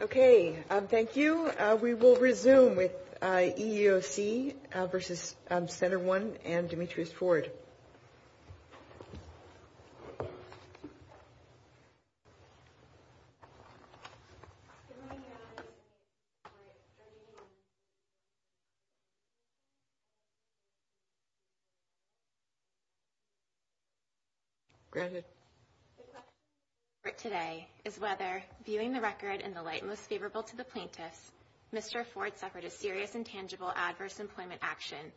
Okay, thank you. We will resume with EEOC v. Center One and Demetrius Ford. The question today is whether, viewing the record in the light most favorable to the plaintiffs, Mr. Ford suffered a serious and tangible adverse employment action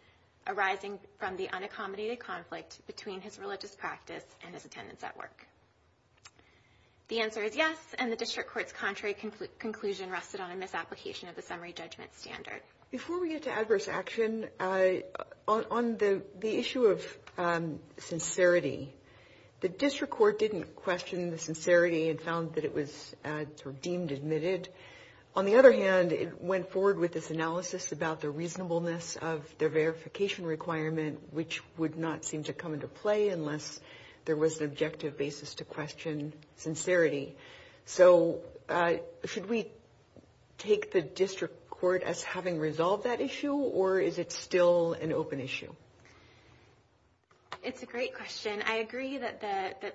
arising from the unaccommodated conflict between his religious practice and his attendance at work. The answer is yes, and the District Court's contrary conclusion rested on a misapplication of the summary judgment standard. Before we get to adverse action, on the issue of sincerity, the District Court didn't question the sincerity and found that it was deemed admitted. On the other hand, it went forward with this analysis about the reasonableness of the verification requirement, which would not seem to come into play unless there was an objective basis to question sincerity. So, should we take the District Court as having resolved that issue, or is it still an open issue? It's a great question. I agree that the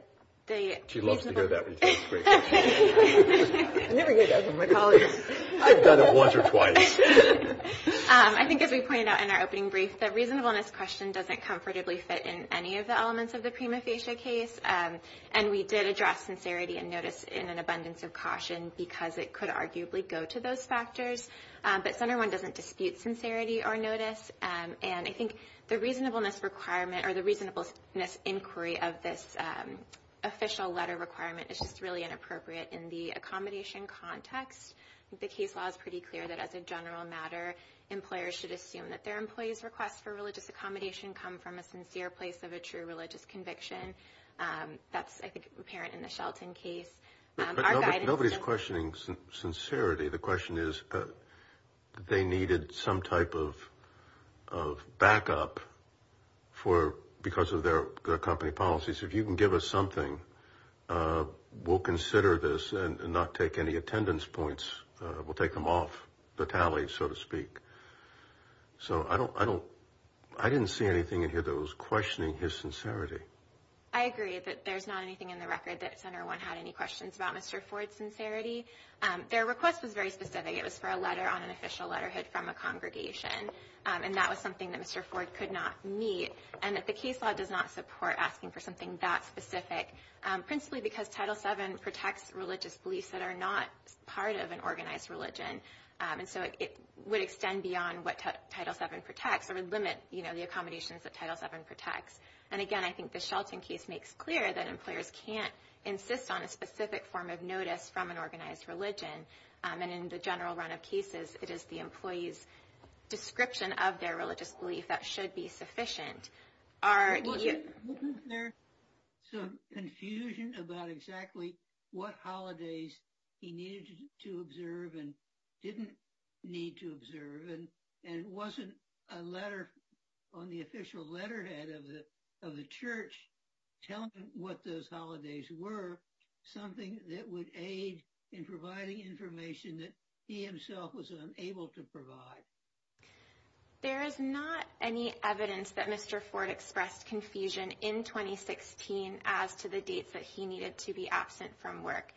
reasonableness question doesn't comfortably fit in any of the elements of the prima facie case. And we did address sincerity and notice in an abundance of caution because it could arguably go to those factors. But Center One doesn't dispute sincerity or notice, and I think the reasonableness inquiry of this official letter requirement is just really inappropriate in the accommodation context. The case law is pretty clear that as a general matter, employers should assume that their employees' requests for religious accommodation come from a sincere place of a true religious conviction. That's, I think, apparent in the Shelton case. Nobody's questioning sincerity. The question is they needed some type of backup because of their company policies. If you can give us something, we'll consider this and not take any attendance points. We'll take them off the tally, so to speak. So, I didn't see anything in here that was questioning his sincerity. I agree that there's not anything in the record that Center One had any questions about Mr. Ford's sincerity. Their request was very specific. It was for a letter on an official letterhood from a congregation. And that was something that Mr. Ford could not meet. And the case law does not support asking for something that specific, principally because Title VII protects religious beliefs that are not part of an organized religion. And so it would extend beyond what Title VII protects or limit the accommodations that Title VII protects. And again, I think the Shelton case makes clear that employers can't insist on a specific form of notice from an organized religion. And in the general run of cases, it is the employee's description of their religious belief that should be sufficient. Wasn't there some confusion about exactly what holidays he needed to observe and didn't need to observe? And wasn't a letter on the official letterhead of the church telling him what those holidays were something that would aid in providing information that he himself was unable to provide? There is not any evidence that Mr. Ford expressed confusion in 2016 as to the dates that he needed to be absent from work.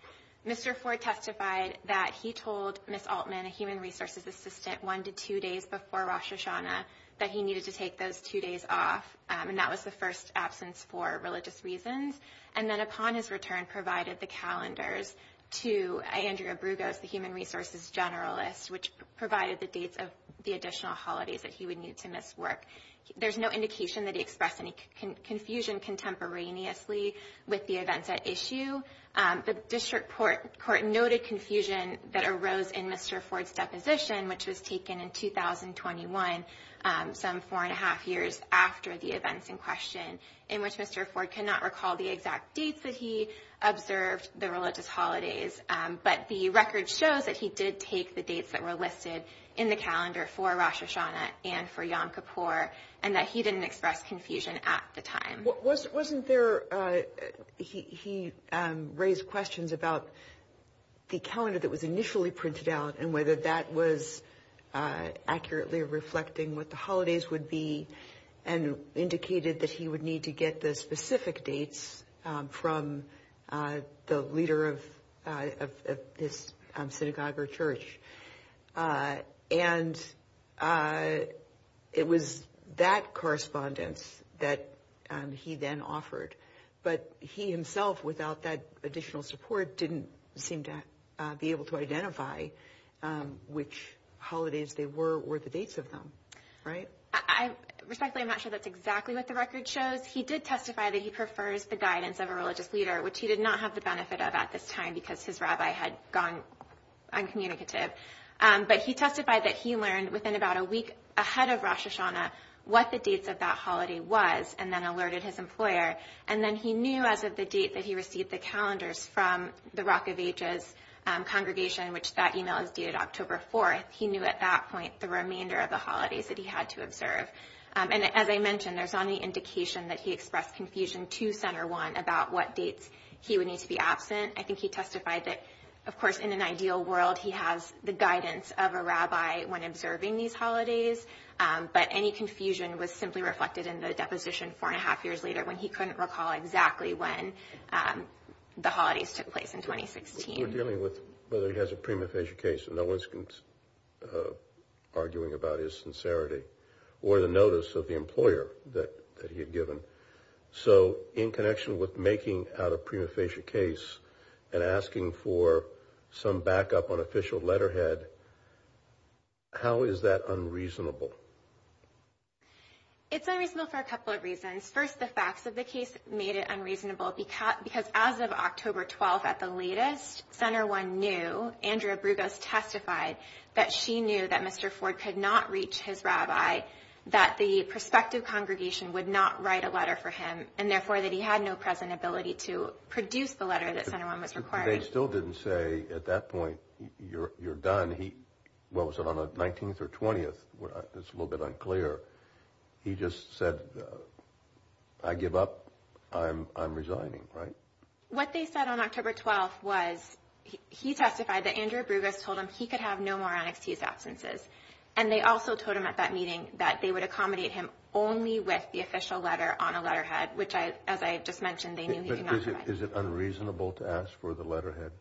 Mr. Ford testified that he told Ms. Altman, a human resources assistant, one to two days before Rosh Hashanah, that he needed to take those two days off. And that was the first absence for religious reasons. And then upon his return, provided the calendars to Andrea Brugos, the human resources generalist, which provided the dates of the additional holidays that he would need to miss work. There's no indication that he expressed any confusion contemporaneously with the events at issue. The district court noted confusion that arose in Mr. Ford's deposition, which was taken in 2021, some four and a half years after the events in question, in which Mr. Ford cannot recall the exact dates that he observed the religious holidays. But the record shows that he did take the dates that were listed in the calendar for Rosh Hashanah and for Yom Kippur and that he didn't express confusion at the time. Wasn't there, he raised questions about the calendar that was initially printed out and whether that was accurately reflecting what the holidays would be and indicated that he would need to get the specific dates from the leader of this synagogue or church. And it was that correspondence that he then offered. But he himself, without that additional support, didn't seem to be able to identify which holidays they were or the dates of them. Right? Respectfully, I'm not sure that's exactly what the record shows. He did testify that he prefers the guidance of a religious leader, which he did not have the benefit of at this time because his rabbi had gone uncommunicative. But he testified that he learned within about a week ahead of Rosh Hashanah what the dates of that holiday was and then alerted his employer. And then he knew as of the date that he received the calendars from the Rock of Ages congregation, which that email is dated October 4th. He knew at that point the remainder of the holidays that he had to observe. And as I mentioned, there's not any indication that he expressed confusion to Center One about what dates he would need to be absent. I think he testified that, of course, in an ideal world, he has the guidance of a rabbi when observing these holidays. But any confusion was simply reflected in the deposition four and a half years later when he couldn't recall exactly when the holidays took place in 2016. We're dealing with whether he has a prima facie case and no one's arguing about his sincerity or the notice of the employer that he had given. So in connection with making out a prima facie case and asking for some backup on official letterhead, how is that unreasonable? It's unreasonable for a couple of reasons. First, the facts of the case made it unreasonable because as of October 12th at the latest, Center One knew. Andrea Brugos testified that she knew that Mr. Ford could not reach his rabbi, that the prospective congregation would not write a letter for him, and therefore that he had no present ability to produce the letter that Center One was requiring. They still didn't say at that point, you're done. Well, was it on the 19th or 20th? It's a little bit unclear. He just said, I give up, I'm resigning, right? What they said on October 12th was he testified that Andrea Brugos told him he could have no more NXT's absences. And they also told him at that meeting that they would accommodate him only with the official letter on a letterhead, which, as I just mentioned, they knew he could not provide. Is it unreasonable to ask for the letterhead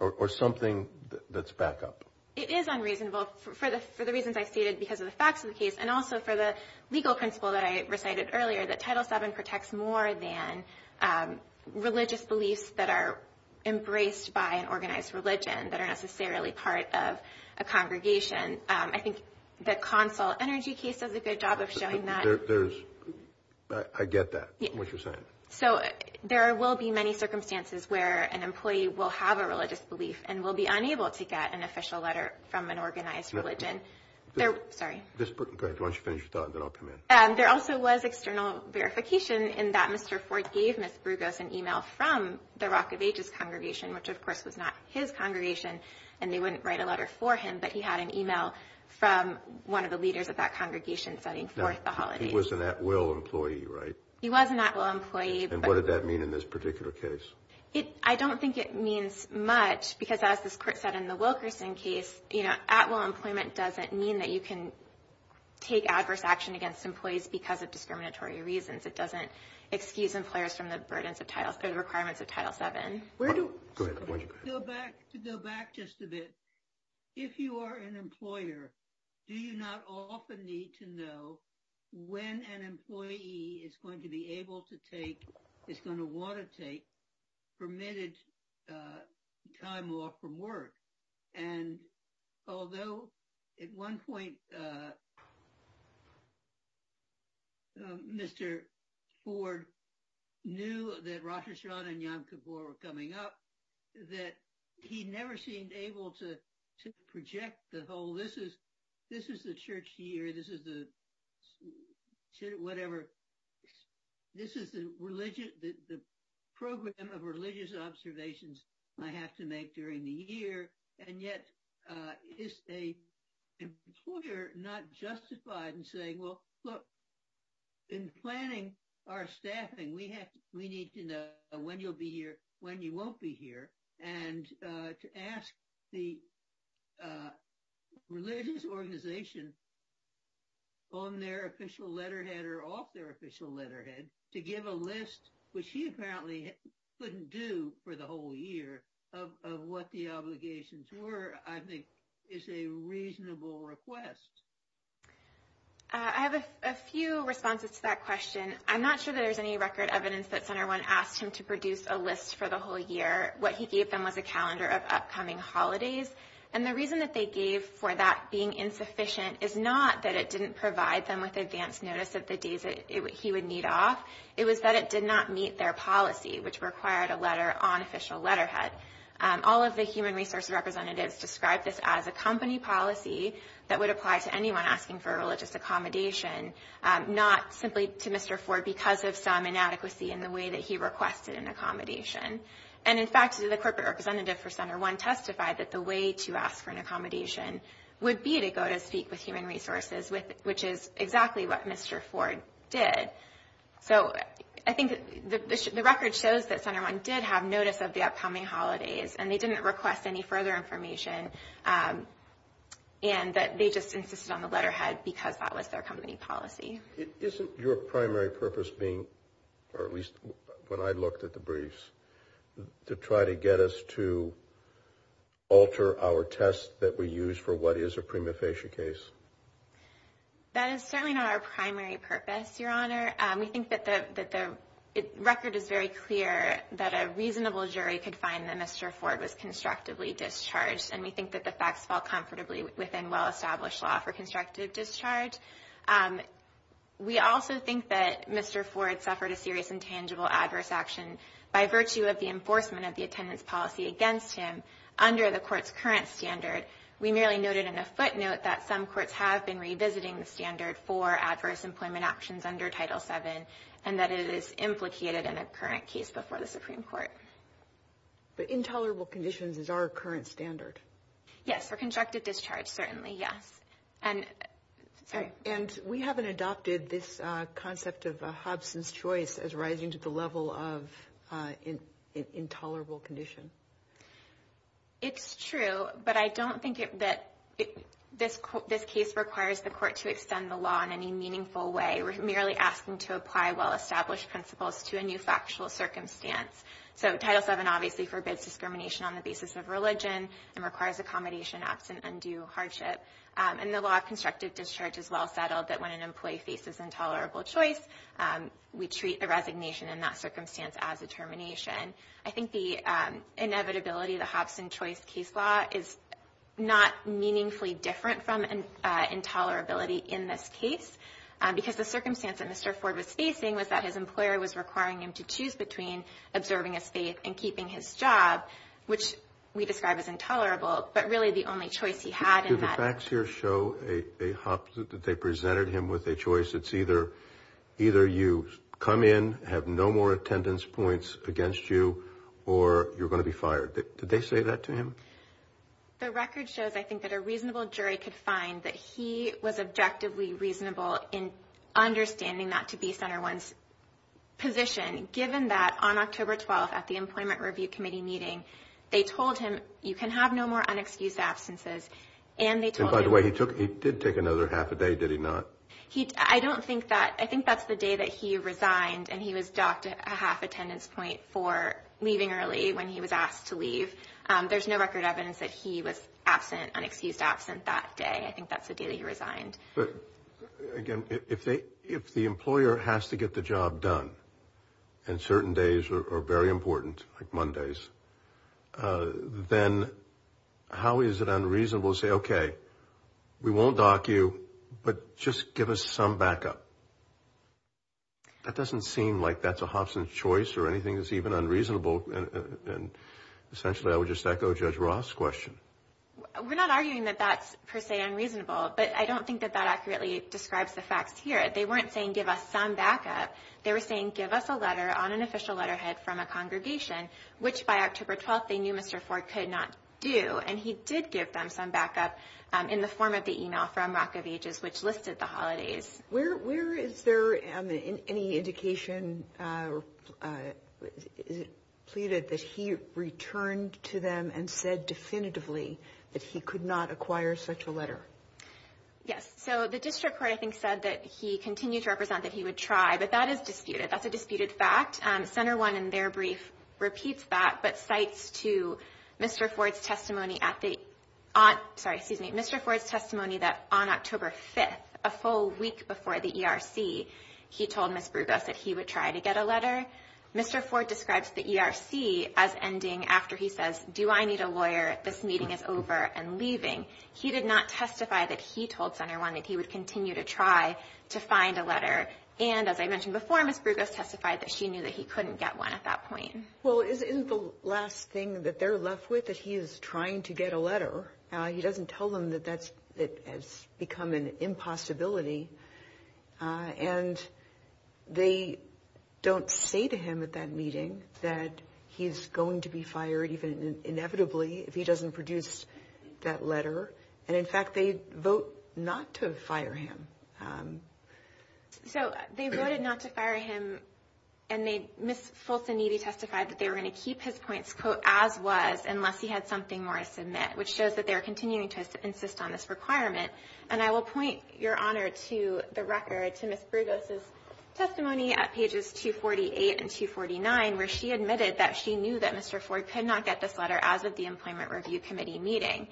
or something that's back up? It is unreasonable for the reasons I stated because of the facts of the case and also for the legal principle that I recited earlier, that Title VII protects more than religious beliefs that are embraced by an organized religion that are necessarily part of a congregation. I think the consul energy case does a good job of showing that. I get that, what you're saying. So there will be many circumstances where an employee will have a religious belief and will be unable to get an official letter from an organized religion. Sorry. Go ahead, why don't you finish your thought and then I'll come in. There also was external verification in that Mr. Ford gave Ms. Brugos an email from the Rock of Ages congregation, which of course was not his congregation and they wouldn't write a letter for him, but he had an email from one of the leaders of that congregation sending forth the holidays. He was an at-will employee, right? He was an at-will employee. And what did that mean in this particular case? I don't think it means much because as this court said in the Wilkerson case, at-will employment doesn't mean that you can take adverse action against employees because of discriminatory reasons. It doesn't excuse employers from the requirements of Title VII. Go ahead, why don't you go ahead. To go back just a bit, if you are an employer, do you not often need to know when an employee is going to be able to take, is going to want to take permitted time off from work? And although at one point Mr. Ford knew that Rosh Hashanah and Yom Kippur were coming up, that he never seemed able to project the whole, this is the church year, this is the whatever, this is the program of religious observations I have to make during the year, and yet is an employer not justified in saying, well, look, in planning our staffing, we need to know when you'll be here, when you won't be here, and to ask the religious organization on their official letterhead or off their official letterhead to give a list, which he apparently couldn't do for the whole year of what the obligations were, I think is a reasonable request. I have a few responses to that question. I'm not sure that there's any record evidence that Center One asked him to produce a list for the whole year. What he gave them was a calendar of upcoming holidays, and the reason that they gave for that being insufficient is not that it didn't provide them with advance notice of the days he would need off. It was that it did not meet their policy, which required a letter on official letterhead. All of the human resources representatives described this as a company policy that would apply to anyone asking for religious accommodation, not simply to Mr. Ford because of some inadequacy in the way that he requested an accommodation. And, in fact, the corporate representative for Center One testified that the way to ask for an accommodation would be to go to speak with human resources, which is exactly what Mr. Ford did. So I think the record shows that Center One did have notice of the upcoming holidays, and they didn't request any further information, and that they just insisted on the letterhead because that was their company policy. Isn't your primary purpose being, or at least when I looked at the briefs, to try to get us to alter our test that we used for what is a prima facie case? That is certainly not our primary purpose, Your Honor. We think that the record is very clear that a reasonable jury could find that Mr. Ford was constructively discharged, and we think that the facts fall comfortably within well-established law for constructive discharge. We also think that Mr. Ford suffered a serious and tangible adverse action by virtue of the enforcement of the attendance policy against him under the Court's current standard. We merely noted in a footnote that some courts have been revisiting the standard for adverse employment options under Title VII and that it is implicated in a current case before the Supreme Court. But intolerable conditions is our current standard? Yes, for constructive discharge certainly, yes. And we haven't adopted this concept of a Hobson's Choice as rising to the level of intolerable condition. It's true, but I don't think that this case requires the Court to extend the law in any meaningful way. We're merely asking to apply well-established principles to a new factual circumstance. So Title VII obviously forbids discrimination on the basis of religion and requires accommodation absent undue hardship. And the law of constructive discharge is well settled that when an employee faces intolerable choice, we treat a resignation in that circumstance as a termination. I think the inevitability of the Hobson's Choice case law is not meaningfully different from intolerability in this case because the circumstance that Mr. Ford was facing was that his employer was requiring him to choose between observing his faith and keeping his job, which we describe as intolerable, but really the only choice he had in that. Do the facts here show a Hobson that they presented him with a choice? It's either you come in, have no more attendance points against you, or you're going to be fired. Did they say that to him? The record shows, I think, that a reasonable jury could find that he was objectively reasonable in understanding that to be Center One's position, given that on October 12th at the Employment Review Committee meeting, they told him, you can have no more unexcused absences, and they told him— And by the way, he did take another half a day, did he not? I don't think that—I think that's the day that he resigned, and he was docked a half attendance point for leaving early when he was asked to leave. There's no record evidence that he was absent, unexcused absent that day. I think that's the day that he resigned. But, again, if the employer has to get the job done, and certain days are very important, like Mondays, then how is it unreasonable to say, okay, we won't dock you, but just give us some backup? That doesn't seem like that's a Hobson's choice or anything that's even unreasonable, and essentially I would just echo Judge Roth's question. We're not arguing that that's per se unreasonable, but I don't think that that accurately describes the facts here. They weren't saying give us some backup. They were saying give us a letter on an official letterhead from a congregation, which by October 12th they knew Mr. Ford could not do, and he did give them some backup in the form of the email from Rock of Ages, which listed the holidays. Where is there any indication or is it pleaded that he returned to them and said definitively that he could not acquire such a letter? Yes. So the district court, I think, said that he continued to represent that he would try, but that is disputed. That's a disputed fact. Center One in their brief repeats that but cites to Mr. Ford's testimony that on October 5th, a full week before the ERC, he told Ms. Brugos that he would try to get a letter. Mr. Ford describes the ERC as ending after he says, do I need a lawyer? This meeting is over and leaving. He did not testify that he told Center One that he would continue to try to find a letter, and as I mentioned before, Ms. Brugos testified that she knew that he couldn't get one at that point. Well, isn't the last thing that they're left with that he is trying to get a letter? He doesn't tell them that that has become an impossibility, and they don't say to him at that meeting that he's going to be fired, even inevitably, if he doesn't produce that letter, and, in fact, they vote not to fire him. So they voted not to fire him, and Ms. Fulson-Needy testified that they were going to keep his points as was unless he had something more to submit, which shows that they are continuing to insist on this requirement, and I will point your honor to the record to Ms. Brugos' testimony at pages 248 and 249 where she admitted that she knew that Mr. Ford could not get this letter as of the Employment Review Committee meeting.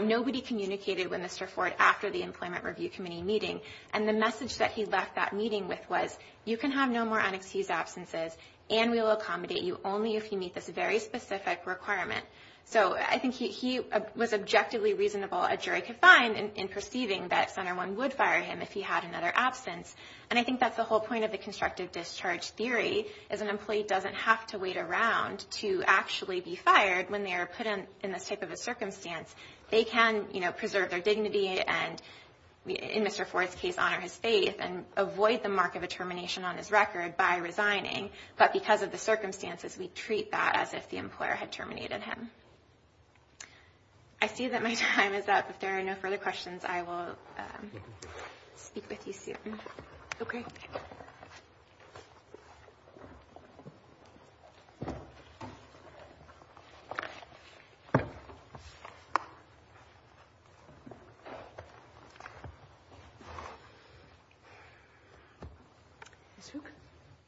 Nobody communicated with Mr. Ford after the Employment Review Committee meeting, and the message that he left that meeting with was you can have no more unexcused absences, and we will accommodate you only if you meet this very specific requirement. So I think he was objectively reasonable, a jury could find, in perceiving that Center One would fire him if he had another absence, and I think that's the whole point of the constructive discharge theory is an employee doesn't have to wait around to actually be fired when they are put in this type of a circumstance. They can, you know, preserve their dignity and, in Mr. Ford's case, honor his faith and avoid the mark of a termination on his record by resigning, but because of the circumstances, we treat that as if the employer had terminated him. I see that my time is up. If there are no further questions, I will speak with you soon. Okay.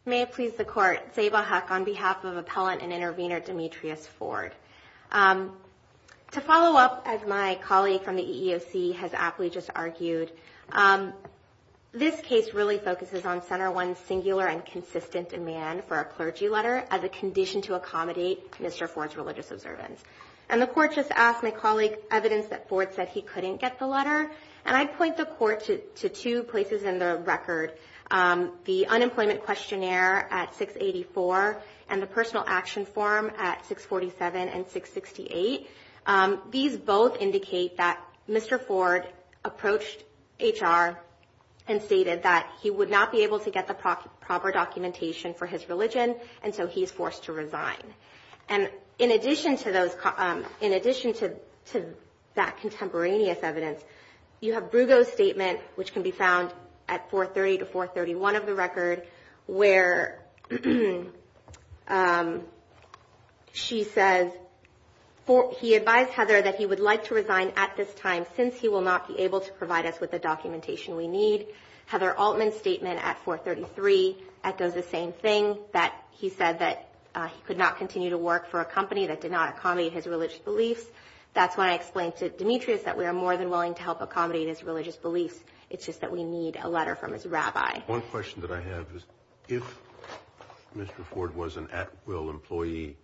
May it please the Court, Zabah Hak on behalf of Appellant and Intervenor Demetrius Ford. To follow up as my colleague from the EEOC has aptly just argued, this case really focuses on Center One's singular and consistent demand for a clergy letter as a condition to accommodate Mr. Ford's religious observance. And the Court just asked my colleague evidence that Ford said he couldn't get the letter, and I'd point the Court to two places in the record, the unemployment questionnaire at 684 and the personal action form at 647 and 668. These both indicate that Mr. Ford approached HR and stated that he would not be able to get the proper documentation for his religion, and so he is forced to resign. And in addition to that contemporaneous evidence, you have Brugge's statement, which can be found at 430 to 431 of the record, where she says he advised Heather that he would like to resign at this time since he will not be able to provide us with the documentation we need. Heather Altman's statement at 433 echoes the same thing, that he said that he could not continue to work for a company that did not accommodate his religious beliefs. That's why I explained to Demetrius that we are more than willing to help accommodate his religious beliefs. It's just that we need a letter from his rabbi. One question that I have is if Mr. Ford was an at-will employee,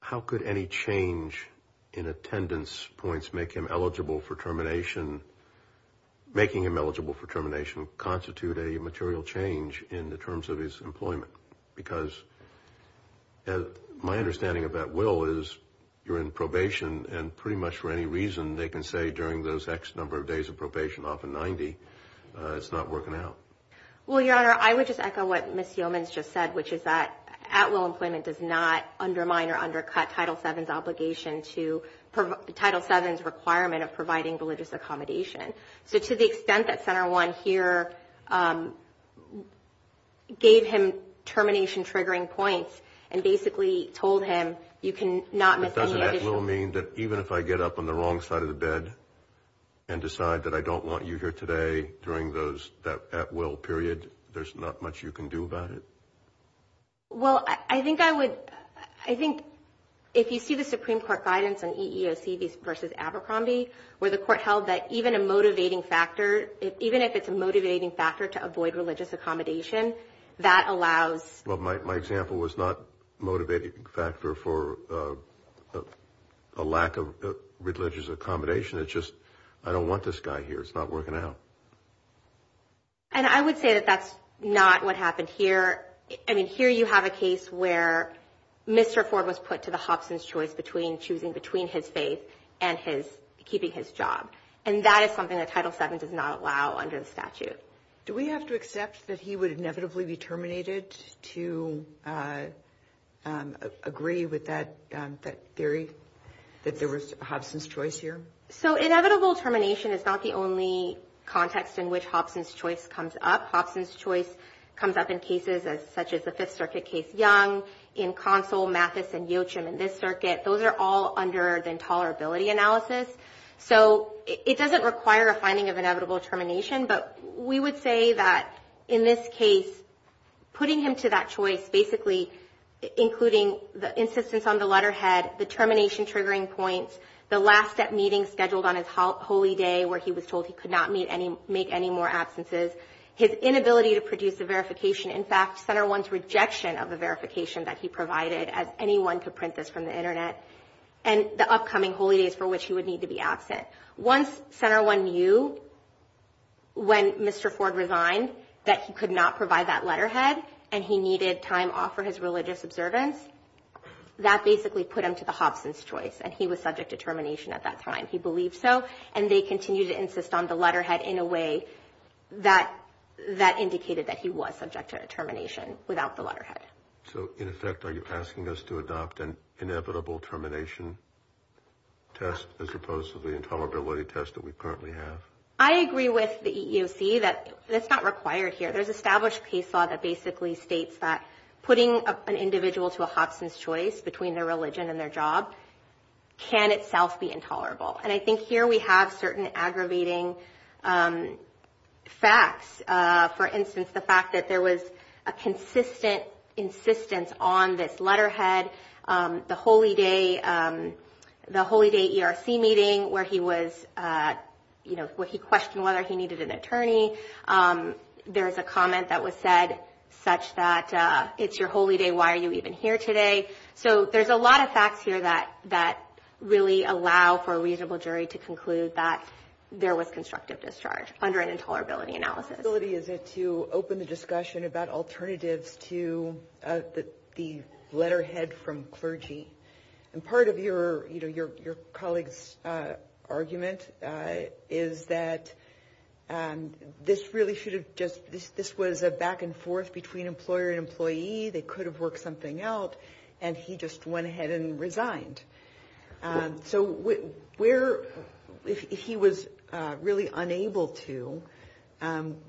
how could any change in attendance points make him eligible for termination, making him eligible for termination constitute a material change in the terms of his employment? Because my understanding of at-will is you're in probation, and pretty much for any reason they can say during those X number of days of probation, often 90, it's not working out. Well, Your Honor, I would just echo what Ms. Yeomans just said, which is that at-will employment does not undermine or undercut Title VII's requirement of providing religious accommodation. So to the extent that Senator Warren here gave him termination-triggering points and basically told him you can not miss any additional… Does that at-will mean that even if I get up on the wrong side of the bed and decide that I don't want you here today during that at-will period, there's not much you can do about it? Well, I think I would – I think if you see the Supreme Court guidance on EEOC versus Abercrombie where the Court held that even a motivating factor, even if it's a motivating factor to avoid religious accommodation, that allows… Well, my example was not a motivating factor for a lack of religious accommodation. It's just I don't want this guy here. It's not working out. And I would say that that's not what happened here. I mean, here you have a case where Mr. Ford was put to the Hobson's choice between choosing between his faith and his – keeping his job. And that is something that Title VII does not allow under the statute. Do we have to accept that he would inevitably be terminated to agree with that theory, that there was Hobson's choice here? So inevitable termination is not the only context in which Hobson's choice comes up. Hobson's choice comes up in cases such as the Fifth Circuit case, Young, in Consul, Mathis, and Yochim in this circuit. Those are all under the intolerability analysis. So it doesn't require a finding of inevitable termination, but we would say that in this case, putting him to that choice, basically including the insistence on the letterhead, the termination triggering points, the last step meeting scheduled on his holy day where he was told he could not make any more absences, his inability to produce a verification, in fact, Center I's rejection of the verification that he provided, as anyone could print this from the Internet, and the upcoming holy days for which he would need to be absent. Once Center I knew when Mr. Ford resigned that he could not provide that letterhead and he needed time off for his religious observance, that basically put him to the Hobson's choice, and he was subject to termination at that time. He believed so, and they continued to insist on the letterhead in a way that indicated that he was subject to termination without the letterhead. So, in effect, are you asking us to adopt an inevitable termination test as opposed to the intolerability test that we currently have? I agree with the EEOC that that's not required here. There's established case law that basically states that putting an individual to a Hobson's choice between their religion and their job can itself be intolerable, and I think here we have certain aggravating facts. For instance, the fact that there was a consistent insistence on this letterhead, the holy day ERC meeting where he questioned whether he needed an attorney, there's a comment that was said such that, it's your holy day, why are you even here today? So there's a lot of facts here that really allow for a reasonable jury to conclude that there was constructive discharge under an intolerability analysis. What possibility is it to open the discussion about alternatives to the letterhead from clergy? And part of your colleague's argument is that this really should have just, this was a back and forth between employer and employee. They could have worked something out, and he just went ahead and resigned. So where, if he was really unable to,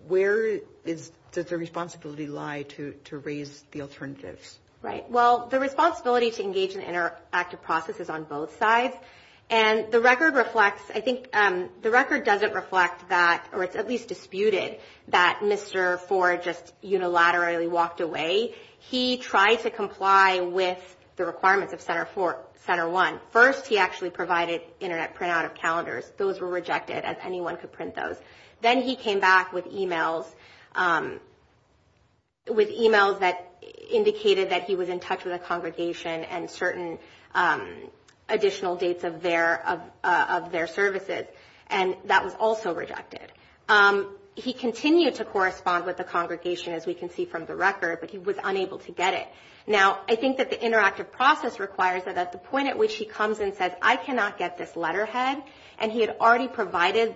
where does the responsibility lie to raise the alternatives? Right. Well, the responsibility to engage in interactive process is on both sides, and the record reflects, I think the record doesn't reflect that, or it's at least disputed that Mr. Ford just unilaterally walked away. He tried to comply with the requirements of Center 1. First, he actually provided internet printout of calendars. Those were rejected, as anyone could print those. Then he came back with emails that indicated that he was in touch with a congregation and certain additional dates of their services, and that was also rejected. He continued to correspond with the congregation, as we can see from the record, but he was unable to get it. Now, I think that the interactive process requires that at the point at which he comes and says, I cannot get this letterhead, and he had already provided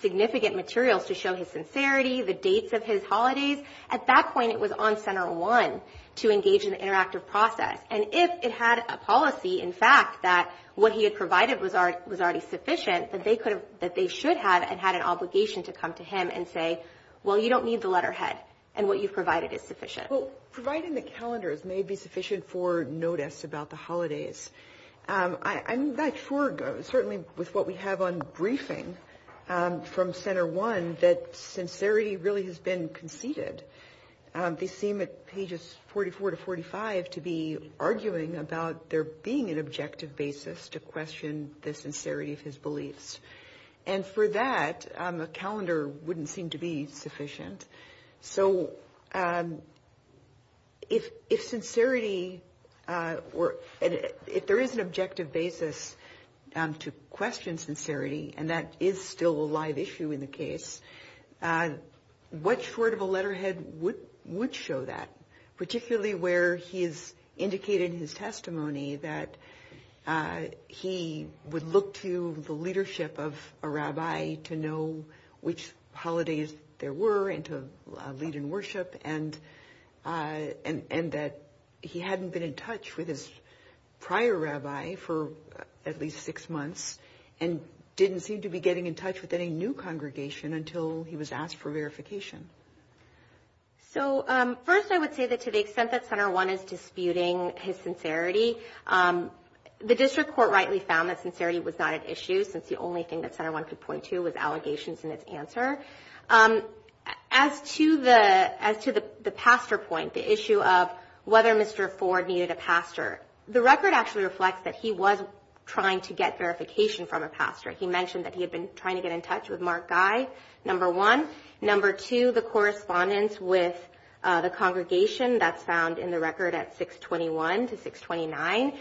significant materials to show his sincerity, the dates of his holidays, at that point it was on Center 1 to engage in the interactive process. And if it had a policy, in fact, that what he had provided was already sufficient, that they should have and had an obligation to come to him and say, well, you don't need the letterhead, and what you've provided is sufficient. Well, providing the calendars may be sufficient for notice about the holidays. I'm not sure, certainly with what we have on briefing from Center 1, that sincerity really has been conceded. They seem at pages 44 to 45 to be arguing about there being an objective basis to question the sincerity of his beliefs. And for that, a calendar wouldn't seem to be sufficient. So if sincerity were ‑‑ if there is an objective basis to question sincerity, and that is still a live issue in the case, what sort of a letterhead would show that, particularly where he has indicated in his testimony that he would look to the leadership of a rabbi to know which holidays there were and to lead in worship, and that he hadn't been in touch with his prior rabbi for at least six months and didn't seem to be getting in touch with any new congregation until he was asked for verification? So first I would say that to the extent that Center 1 is disputing his sincerity, the district court rightly found that sincerity was not an issue, since the only thing that Center 1 could point to was allegations in its answer. As to the pastor point, the issue of whether Mr. Ford needed a pastor, the record actually reflects that he was trying to get verification from a pastor. He mentioned that he had been trying to get in touch with Mark Guy, number one. Number two, the correspondence with the congregation that's found in the record at 621 to 629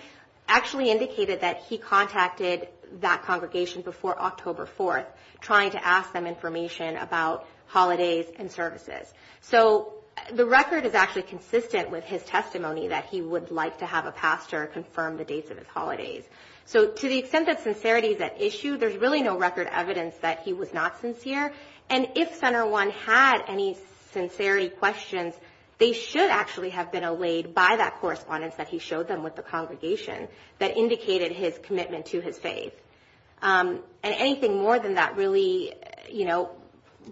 actually indicated that he contacted that congregation before October 4th, trying to ask them information about holidays and services. So the record is actually consistent with his testimony that he would like to have a pastor confirm the dates of his holidays. So to the extent that sincerity is at issue, there's really no record evidence that he was not sincere, and if Center 1 had any sincerity questions, they should actually have been allayed by that correspondence that he showed them with the congregation that indicated his commitment to his faith. And anything more than that really, you know,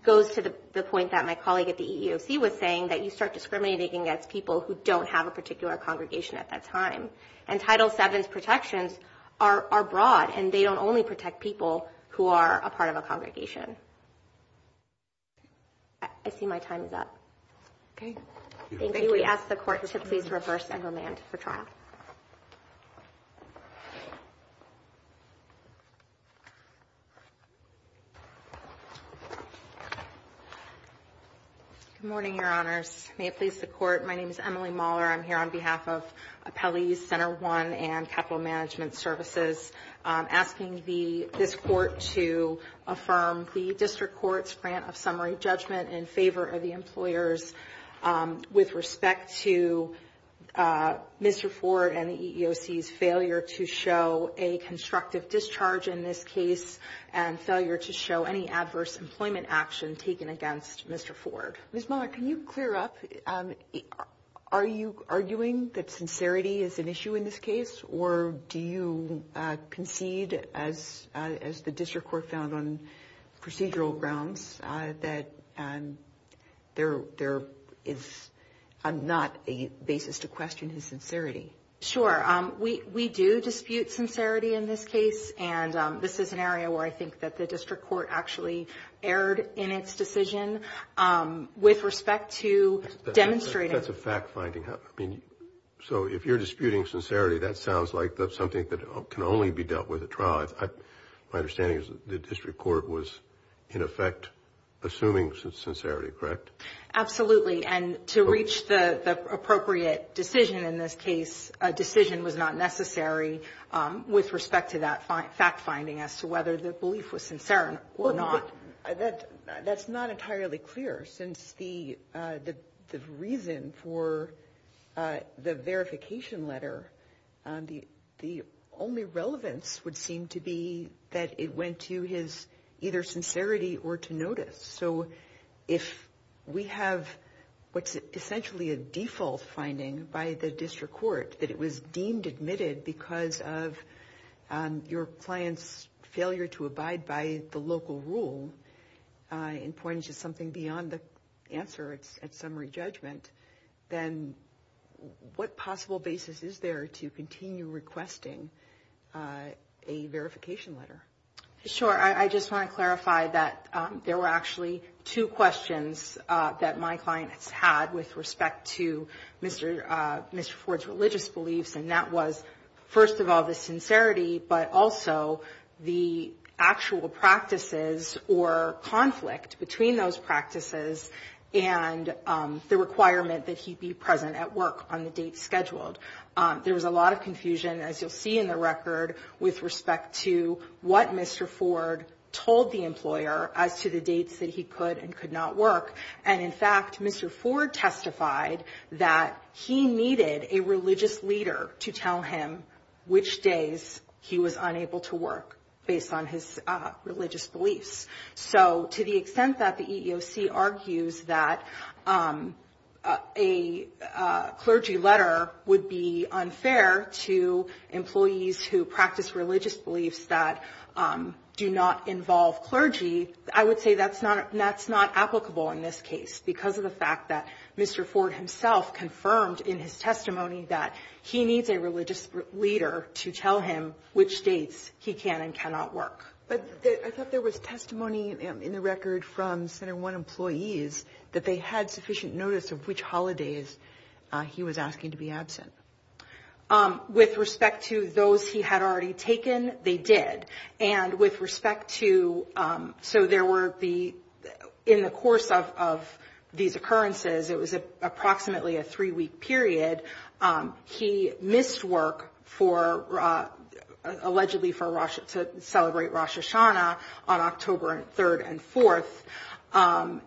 goes to the point that my colleague at the EEOC was saying, that you start discriminating against people who don't have a particular congregation at that time. And Title VII's protections are broad, and they don't only protect people who are a part of a congregation. I see my time is up. Thank you. We ask the Court to please reverse and remand for trial. Good morning, Your Honors. May it please the Court. My name is Emily Mahler. I'm here on behalf of Appellees Center 1 and Capital Management Services, asking this Court to affirm the District Court's grant of summary judgment in favor of the employers with respect to Mr. Ford and the EEOC's failure to show a constructive discharge in this case and failure to show any adverse employment action taken against Mr. Ford. Ms. Mahler, can you clear up? Are you arguing that sincerity is an issue in this case, or do you concede, as the District Court found on procedural grounds, that there is not a basis to question his sincerity? Sure. We do dispute sincerity in this case, and this is an area where I think that the District Court actually erred in its decision. With respect to demonstrating— That's a fact-finding. So if you're disputing sincerity, that sounds like something that can only be dealt with at trial. My understanding is that the District Court was, in effect, assuming sincerity, correct? Absolutely. And to reach the appropriate decision in this case, a decision was not necessary with respect to that fact-finding as to whether the belief was sincere or not. That's not entirely clear, since the reason for the verification letter, the only relevance would seem to be that it went to his either sincerity or to notice. So if we have what's essentially a default finding by the District Court, that it was deemed admitted because of your client's failure to abide by the local rule and pointed to something beyond the answer at summary judgment, then what possible basis is there to continue requesting a verification letter? Sure. I just want to clarify that there were actually two questions that my client has had with respect to Mr. Ford's religious beliefs, and that was, first of all, the sincerity, but also the actual practices or conflict between those practices and the requirement that he be present at work on the date scheduled. There was a lot of confusion, as you'll see in the record, with respect to what Mr. Ford told the employer as to the dates that he could and could not work. And, in fact, Mr. Ford testified that he needed a religious leader to tell him which days he was unable to work based on his religious beliefs. So to the extent that the EEOC argues that a clergy letter would be unfair to employees who practice religious beliefs that do not involve clergy, I would say that's not applicable in this case because of the fact that Mr. Ford himself confirmed in his testimony that he needs a religious leader to tell him which dates he can and cannot work. But I thought there was testimony in the record from Center One employees that they had sufficient notice of which holidays he was asking to be absent. With respect to those he had already taken, they did. And with respect to, so there were the, in the course of these occurrences, it was approximately a three-week period, he missed work for, allegedly to celebrate Rosh Hashanah on October 3rd and 4th,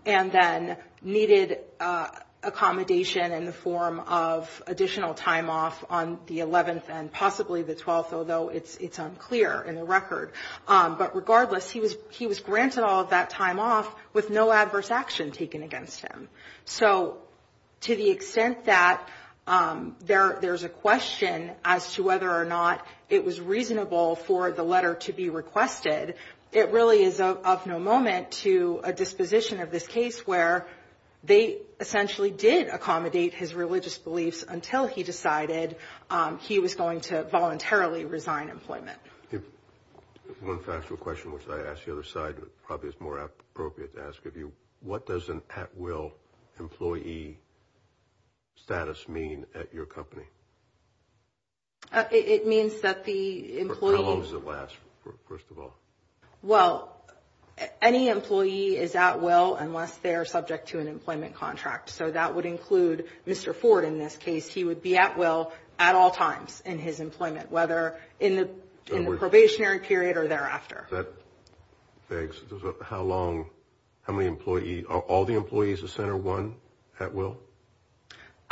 and then needed accommodation in the form of additional time off on the 11th and possibly the 12th, although it's unclear in the record. But regardless, he was granted all of that time off with no adverse action taken against him. So to the extent that there's a question as to whether or not it was reasonable for the letter to be requested, it really is of no moment to a disposition of this case where they essentially did accommodate his religious beliefs until he decided he was going to voluntarily resign employment. One factual question, which I asked the other side, probably is more appropriate to ask of you. What does an at-will employee status mean at your company? It means that the employee- How long does it last, first of all? Well, any employee is at-will unless they are subject to an employment contract. So that would include Mr. Ford in this case. He would be at-will at all times in his employment, whether in the probationary period or thereafter. Thanks. How long, how many employees, are all the employees of Center One at-will?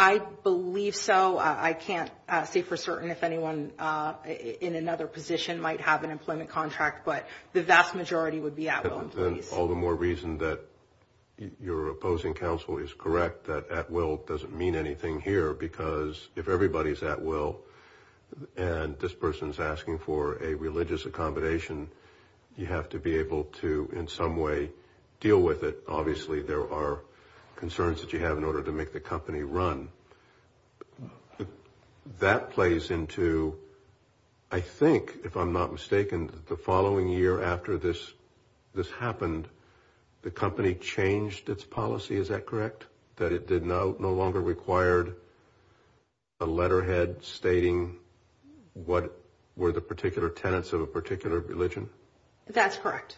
I believe so. I can't say for certain if anyone in another position might have an employment contract, but the vast majority would be at-will employees. Then all the more reason that your opposing counsel is correct that at-will doesn't mean anything here because if everybody is at-will and this person is asking for a religious accommodation, you have to be able to in some way deal with it. Obviously, there are concerns that you have in order to make the company run. That plays into, I think, if I'm not mistaken, the following year after this happened, the company changed its policy, is that correct? That it no longer required a letterhead stating what were the particular tenets of a particular religion? That's correct.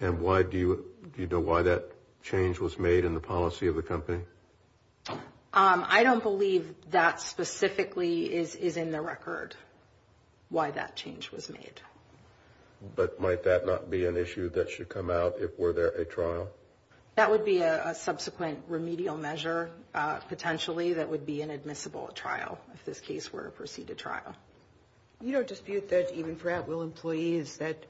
And do you know why that change was made in the policy of the company? I don't believe that specifically is in the record why that change was made. But might that not be an issue that should come out if were there a trial? That would be a subsequent remedial measure potentially that would be an admissible trial, if this case were a preceded trial. You don't dispute that even for at-will employees that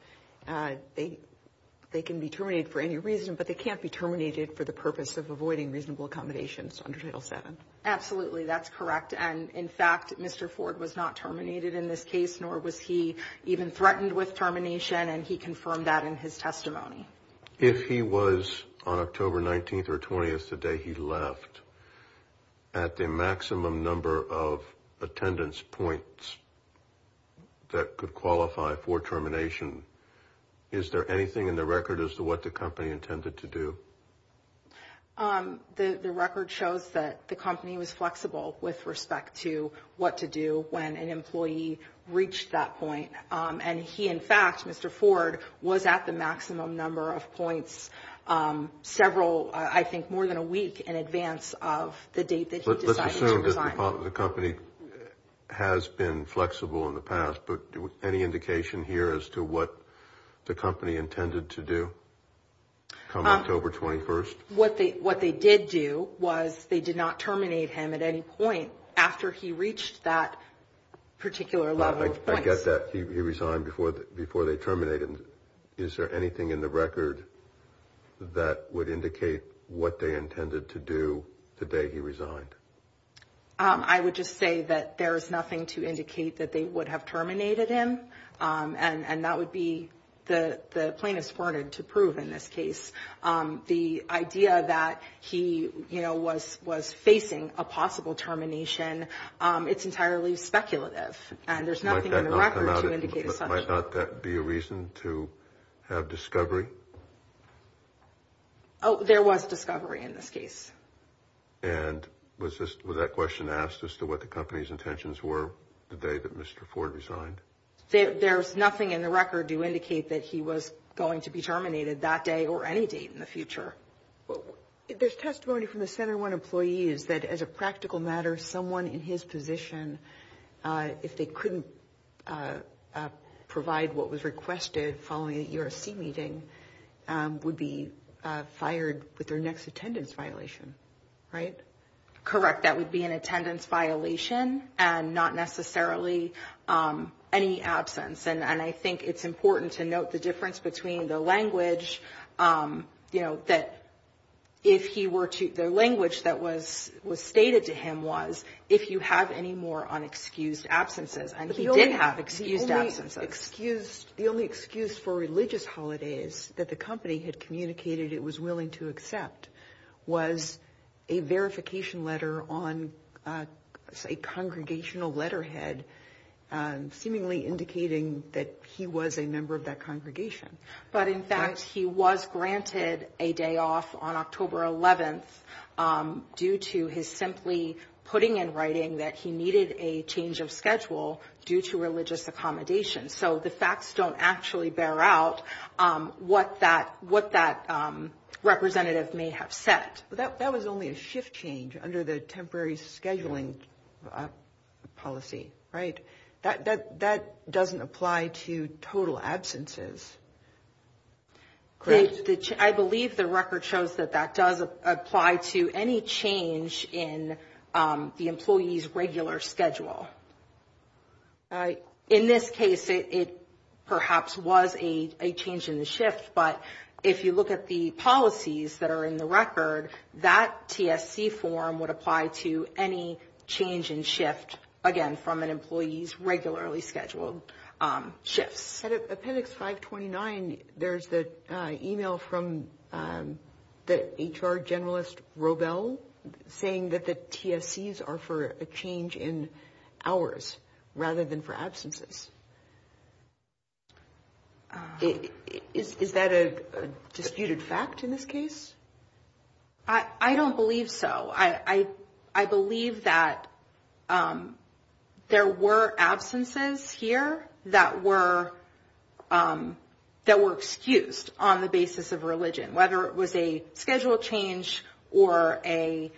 they can be terminated for any reason, but they can't be terminated for the purpose of avoiding reasonable accommodations under Title VII. Absolutely, that's correct. And, in fact, Mr. Ford was not terminated in this case, nor was he even threatened with termination, and he confirmed that in his testimony. If he was on October 19th or 20th, the day he left, at the maximum number of attendance points that could qualify for termination, is there anything in the record as to what the company intended to do? The record shows that the company was flexible with respect to what to do when an employee reached that point. And he, in fact, Mr. Ford, was at the maximum number of points several, I think, more than a week in advance of the date that he decided to resign. Let's assume that the company has been flexible in the past, but any indication here as to what the company intended to do come October 21st? What they did do was they did not terminate him at any point after he reached that particular level of points. I get that. He resigned before they terminated him. Is there anything in the record that would indicate what they intended to do the day he resigned? I would just say that there is nothing to indicate that they would have terminated him, and that would be the plaintiff's warranted to prove in this case. The idea that he was facing a possible termination, it's entirely speculative, and there's nothing in the record to indicate such. Might not that be a reason to have discovery? Oh, there was discovery in this case. And was that question asked as to what the company's intentions were the day that Mr. Ford resigned? There's nothing in the record to indicate that he was going to be terminated that day or any date in the future. There's testimony from the Center One employees that, as a practical matter, someone in his position, if they couldn't provide what was requested following the ERC meeting, would be fired with their next attendance violation, right? Correct. That would be an attendance violation and not necessarily any absence. And I think it's important to note the difference between the language that if he were to – the language that was stated to him was, if you have any more unexcused absences. And he did have excused absences. The only excuse for religious holidays that the company had communicated it was willing to accept was a verification letter on a congregational letterhead seemingly indicating that he was a member of that congregation. But, in fact, he was granted a day off on October 11th due to his simply putting in writing that he needed a change of schedule due to religious accommodation. So the facts don't actually bear out what that representative may have said. That was only a shift change under the temporary scheduling policy, right? That doesn't apply to total absences. Correct. I believe the record shows that that does apply to any change in the employee's regular schedule. In this case, it perhaps was a change in the shift, but if you look at the policies that are in the record, that TSC form would apply to any change in shift, again, from an employee's regularly scheduled shifts. At Appendix 529, there's the e-mail from the HR Generalist Robel saying that the TSCs are for a change in hours rather than for absences. Is that a disputed fact in this case? I don't believe so. I believe that there were absences here that were excused on the basis of religion, whether it was a schedule change or a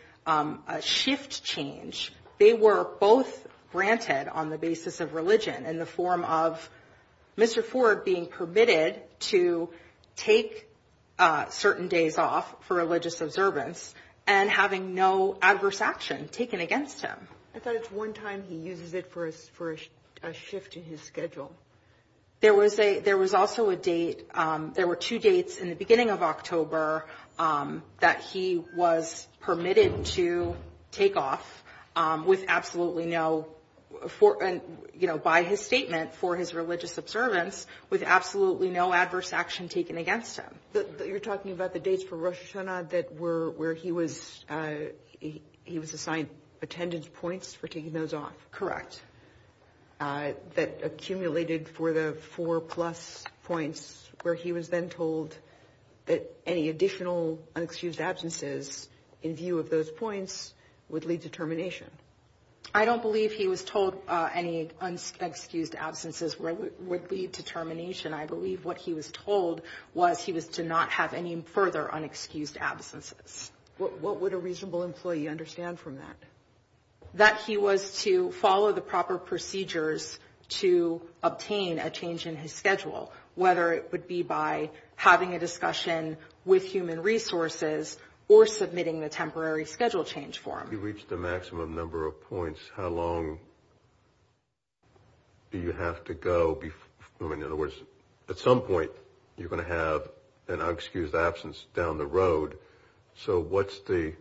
shift change. They were both granted on the basis of religion in the form of Mr. Ford being permitted to take certain days off for religious observance and having no adverse action taken against him. I thought it's one time he uses it for a shift in his schedule. There was also a date. There were two dates in the beginning of October that he was permitted to take off with absolutely no, you know, by his statement for his religious observance with absolutely no adverse action taken against him. You're talking about the dates for Rosh Hashanah where he was assigned attendance points for taking those off? That accumulated for the four plus points where he was then told that any additional excused absences in view of those points would lead to termination? I don't believe he was told any excused absences would lead to termination. I believe what he was told was he was to not have any further unexcused absences. What would a reasonable employee understand from that? That he was to follow the proper procedures to obtain a change in his schedule, whether it would be by having a discussion with human resources or submitting the temporary schedule change form. If he reached the maximum number of points, how long do you have to go? In other words, at some point you're going to have an excused absence down the road. So what's the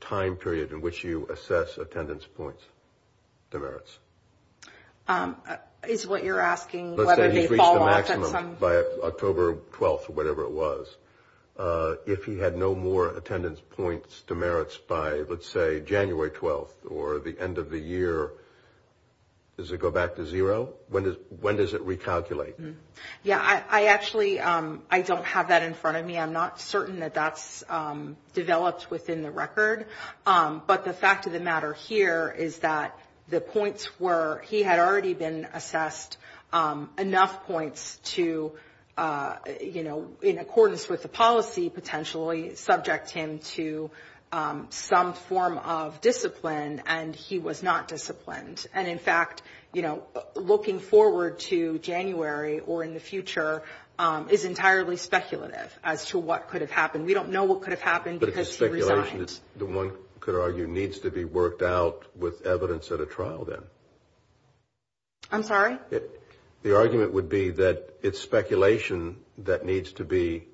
time period in which you assess attendance points demerits? Is what you're asking whether they fall off at some? Let's say he's reached the maximum by October 12th or whatever it was. If he had no more attendance points demerits by, let's say, January 12th or the end of the year, does it go back to zero? When does it recalculate? Yeah, I actually don't have that in front of me. I'm not certain that that's developed within the record. But the fact of the matter here is that the points were he had already been assessed enough points to, you know, in accordance with the policy potentially subject him to some form of discipline, and he was not disciplined. And, in fact, you know, looking forward to January or in the future is entirely speculative as to what could have happened. We don't know what could have happened because he resigned. The speculation, one could argue, needs to be worked out with evidence at a trial then. I'm sorry? The argument would be that it's speculation that needs to be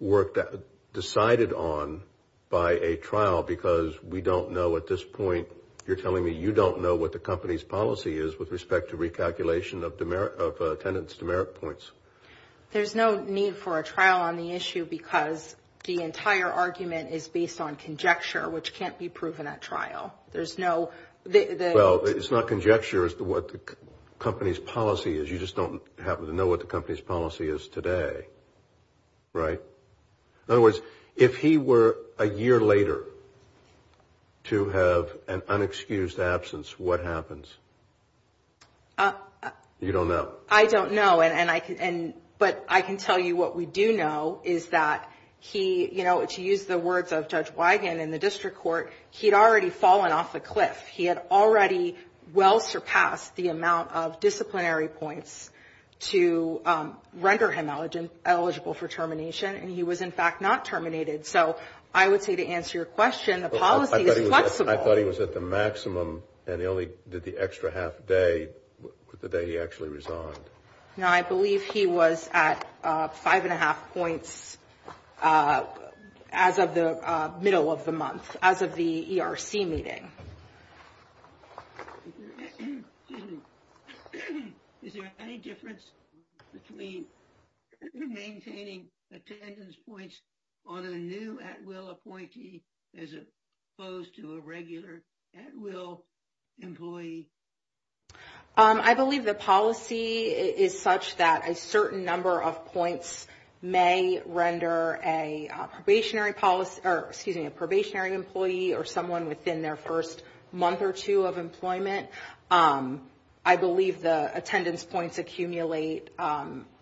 worked out, decided on by a trial because we don't know at this point. You're telling me you don't know what the company's policy is with respect to recalculation of attendance demerit points. There's no need for a trial on the issue because the entire argument is based on conjecture, which can't be proven at trial. There's no – Well, it's not conjecture as to what the company's policy is. You just don't happen to know what the company's policy is today, right? In other words, if he were a year later to have an unexcused absence, what happens? You don't know. I don't know, but I can tell you what we do know is that he, to use the words of Judge Wigand in the district court, he'd already fallen off a cliff. He had already well surpassed the amount of disciplinary points to render him eligible for termination, and he was, in fact, not terminated. So I would say to answer your question, the policy is flexible. I thought he was at the maximum, and he only did the extra half day, the day he actually resigned. No, I believe he was at five and a half points as of the middle of the month, as of the ERC meeting. Excuse me. Is there any difference between maintaining attendance points on a new at-will appointee as opposed to a regular at-will employee? I believe the policy is such that a certain number of points may render a probationary employee or someone within their first month or two of employment. I believe the attendance points accumulate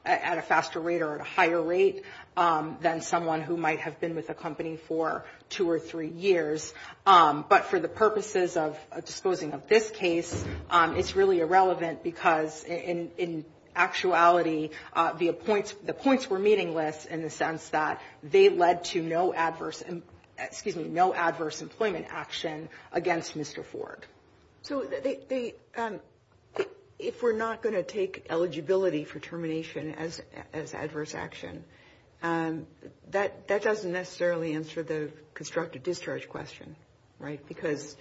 at a faster rate or at a higher rate than someone who might have been with a company for two or three years. But for the purposes of disposing of this case, it's really irrelevant because, in actuality, the points were meaningless in the sense that they led to no adverse employment action against Mr. Ford. So if we're not going to take eligibility for termination as adverse action, that doesn't necessarily answer the constructive discharge question, right? Because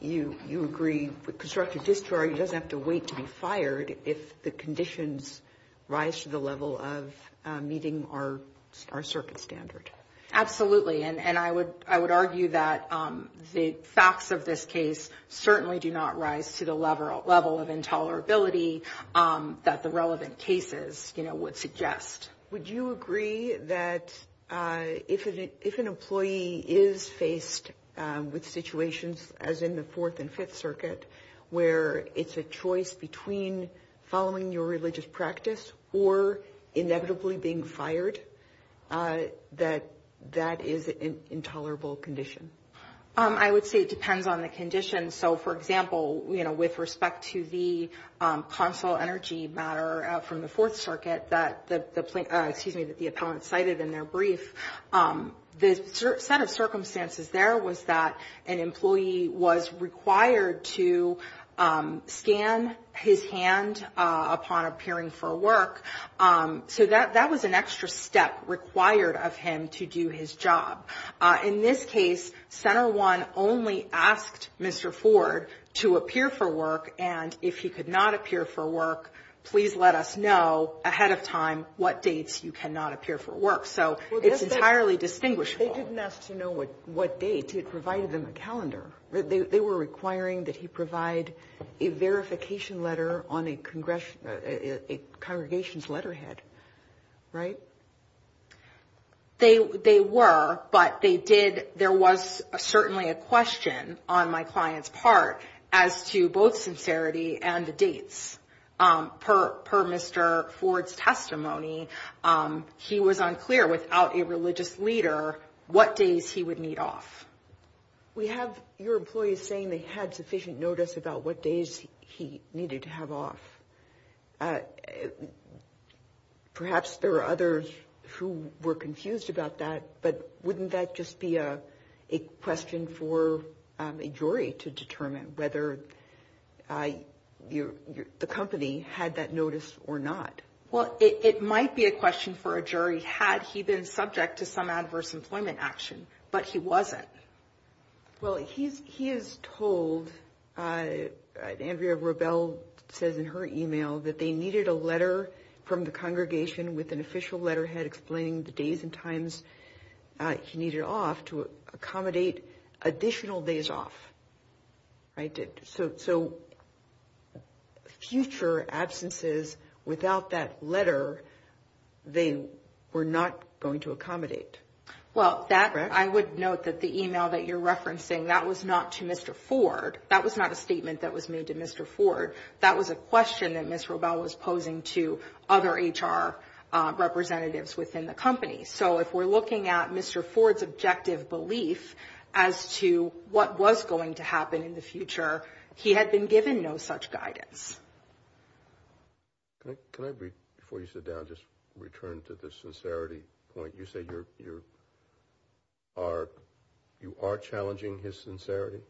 you agree constructive discharge doesn't have to wait to be fired if the conditions rise to the level of meeting our circuit standard. Absolutely. And I would argue that the facts of this case certainly do not rise to the level of intolerability that the relevant cases would suggest. Would you agree that if an employee is faced with situations, as in the Fourth and Fifth Circuit, where it's a choice between following your religious practice or inevitably being fired, that that is an intolerable condition? I would say it depends on the condition. So, for example, you know, with respect to the consul energy matter from the Fourth Circuit that the plaintiff, excuse me, that the appellant cited in their brief, the set of circumstances there was that an employee was required to scan his hand upon appearing for work. So that was an extra step required of him to do his job. In this case, Center I only asked Mr. Ford to appear for work, and if he could not appear for work, please let us know ahead of time what dates you cannot appear for work. So it's entirely distinguishable. They didn't ask to know what date. It provided them a calendar. They were requiring that he provide a verification letter on a congregation's letterhead, right? They were, but there was certainly a question on my client's part as to both sincerity and the dates. Per Mr. Ford's testimony, he was unclear without a religious leader what days he would need off. We have your employees saying they had sufficient notice about what days he needed to have off. Perhaps there are others who were confused about that, but wouldn't that just be a question for a jury to determine whether the company had that notice or not? Well, it might be a question for a jury had he been subject to some adverse employment action, but he wasn't. Well, he is told, Andrea Rebell says in her email, that they needed a letter from the congregation with an official letterhead explaining the days and times he needed off to accommodate additional days off. So future absences without that letter, they were not going to accommodate. Well, I would note that the email that you're referencing, that was not to Mr. Ford. That was not a statement that was made to Mr. Ford. That was a question that Ms. Rebell was posing to other HR representatives within the company. So if we're looking at Mr. Ford's objective belief as to what was going to happen in the future, he had been given no such guidance. Can I, before you sit down, just return to the sincerity point? You say you are challenging his sincerity?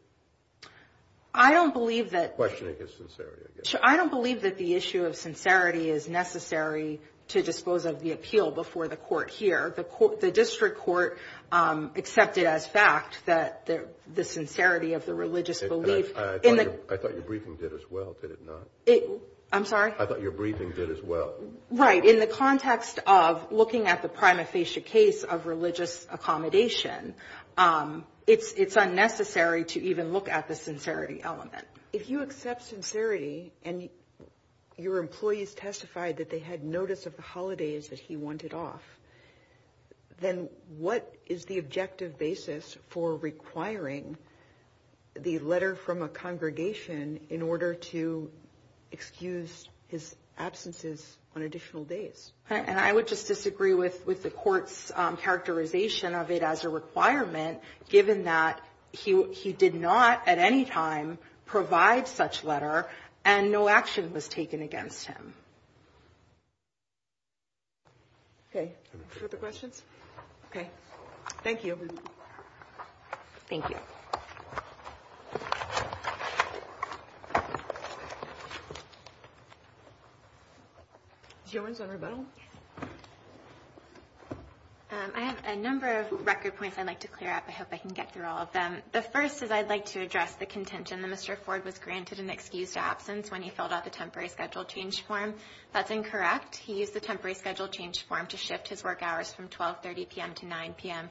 I don't believe that. Questioning his sincerity, I guess. I don't believe that the issue of sincerity is necessary to disclose of the appeal before the court here. The district court accepted as fact that the sincerity of the religious belief. I thought your briefing did as well, did it not? I'm sorry? I thought your briefing did as well. Right. In the context of looking at the prima facie case of religious accommodation, it's unnecessary to even look at the sincerity element. If you accept sincerity and your employees testified that they had notice of the holidays that he wanted off, then what is the objective basis for requiring the letter from a congregation in order to excuse his absences on additional days? And I would just disagree with the court's characterization of it as a requirement, given that he did not at any time provide such letter and no action was taken against him. Okay. Are there other questions? Okay. Thank you. Thank you. I have a number of record points I'd like to clear up. I hope I can get through all of them. The first is I'd like to address the contention that Mr. Ford was granted an excused absence when he filled out the temporary schedule change form. That's incorrect. He used the temporary schedule change form to shift his work hours from 12.30 p.m. to 9.00 p.m.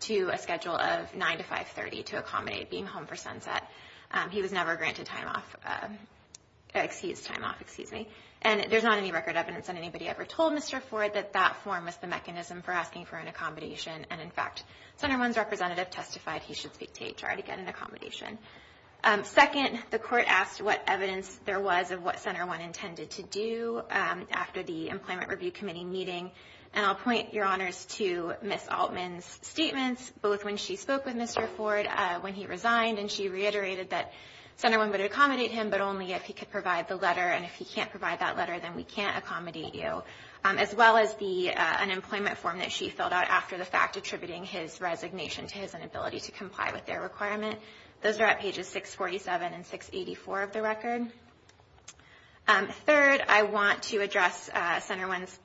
to a schedule of 9.00 to 5.30 p.m. to accommodate being home for sunset. He was never granted time off, excused time off, excuse me. And there's not any record evidence that anybody ever told Mr. Ford that that form was the mechanism for asking for an accommodation. And, in fact, Center One's representative testified he should speak to HR to get an accommodation. Second, the court asked what evidence there was of what Center One intended to do after the Employment Review Committee meeting, and I'll point your honors to Ms. Altman's statements both when she spoke with Mr. Ford when he resigned and she reiterated that Center One would accommodate him but only if he could provide the letter, and if he can't provide that letter, then we can't accommodate you, as well as the unemployment form that she filled out after the fact attributing his resignation to his inability to comply with their requirement. Those are at pages 647 and 684 of the record. Third, I want to address Center One's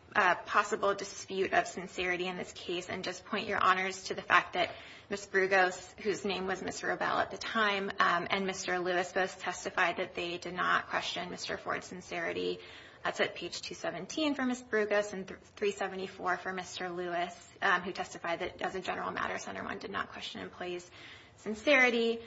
possible dispute of sincerity in this case and just point your honors to the fact that Ms. Brugos, whose name was Ms. Robel at the time, and Mr. Lewis both testified that they did not question Mr. Ford's sincerity. That's at page 217 for Ms. Brugos and 374 for Mr. Lewis, who testified that, as a general matter, Center One did not question employees' sincerity.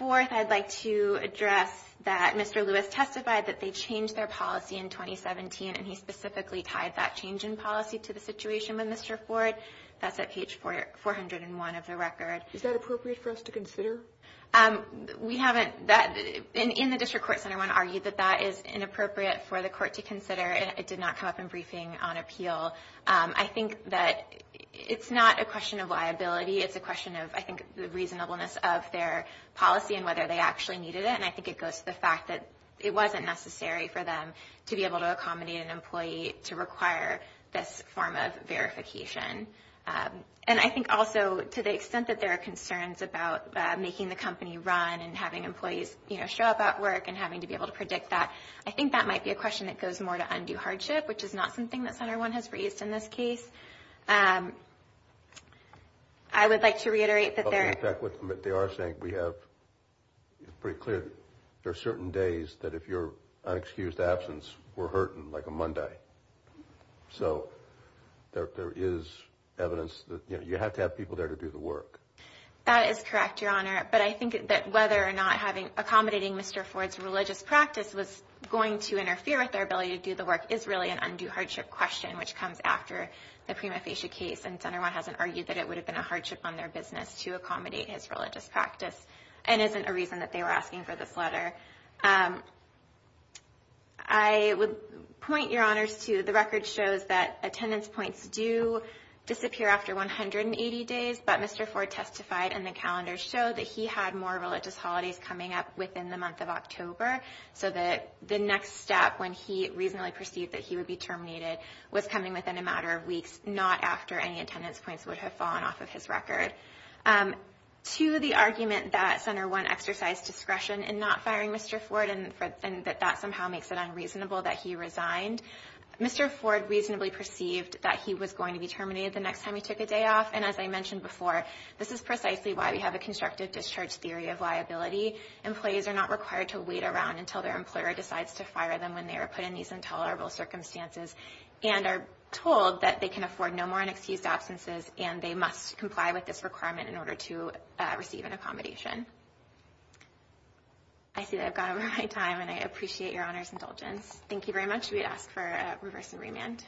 Fourth, I'd like to address that Mr. Lewis testified that they changed their policy in 2017, and he specifically tied that change in policy to the situation with Mr. Ford. That's at page 401 of the record. Is that appropriate for us to consider? We haven't. In the district court, Center One argued that that is inappropriate for the court to consider, and it did not come up in briefing on appeal. I think that it's not a question of liability. It's a question of, I think, the reasonableness of their policy and whether they actually needed it, and I think it goes to the fact that it wasn't necessary for them to be able to accommodate an employee to require this form of verification. And I think also to the extent that there are concerns about making the company run and having employees show up at work and having to be able to predict that, I think that might be a question that goes more to undue hardship, which is not something that Center One has raised in this case. I would like to reiterate that there are certain days that if you're in an excused absence, we're hurting like a Monday. So there is evidence that you have to have people there to do the work. That is correct, Your Honor, but I think that whether or not accommodating Mr. Ford's religious practice was going to interfere with their ability to do the work is really an undue hardship question, which comes after the prima facie case, and Center One hasn't argued that it would have been a hardship on their business to accommodate his religious practice and isn't a reason that they were asking for this letter. I would point, Your Honors, to the record shows that attendance points do disappear after 180 days, but Mr. Ford testified in the calendar show that he had more religious holidays coming up within the month of October, so the next step when he reasonably perceived that he would be terminated was coming within a matter of weeks, not after any attendance points would have fallen off of his record. To the argument that Center One exercised discretion in not firing Mr. Ford and that that somehow makes it unreasonable that he resigned, Mr. Ford reasonably perceived that he was going to be terminated the next time he took a day off, and as I mentioned before, this is precisely why we have a constructive discharge theory of liability. Employees are not required to wait around until their employer decides to fire them when they are put in these intolerable circumstances and are told that they can afford no more unexcused absences and they must comply with this requirement in order to receive an accommodation. I see that I've gone over my time, and I appreciate Your Honors' indulgence. Thank you very much. We ask for a reverse and remand.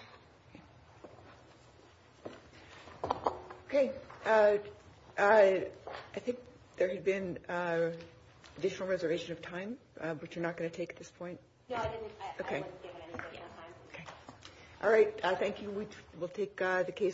Okay. I think there had been additional reservation of time, which you're not going to take at this point. No, I didn't. I wasn't given any particular time. Okay. All right. Thank you. We'll take the case.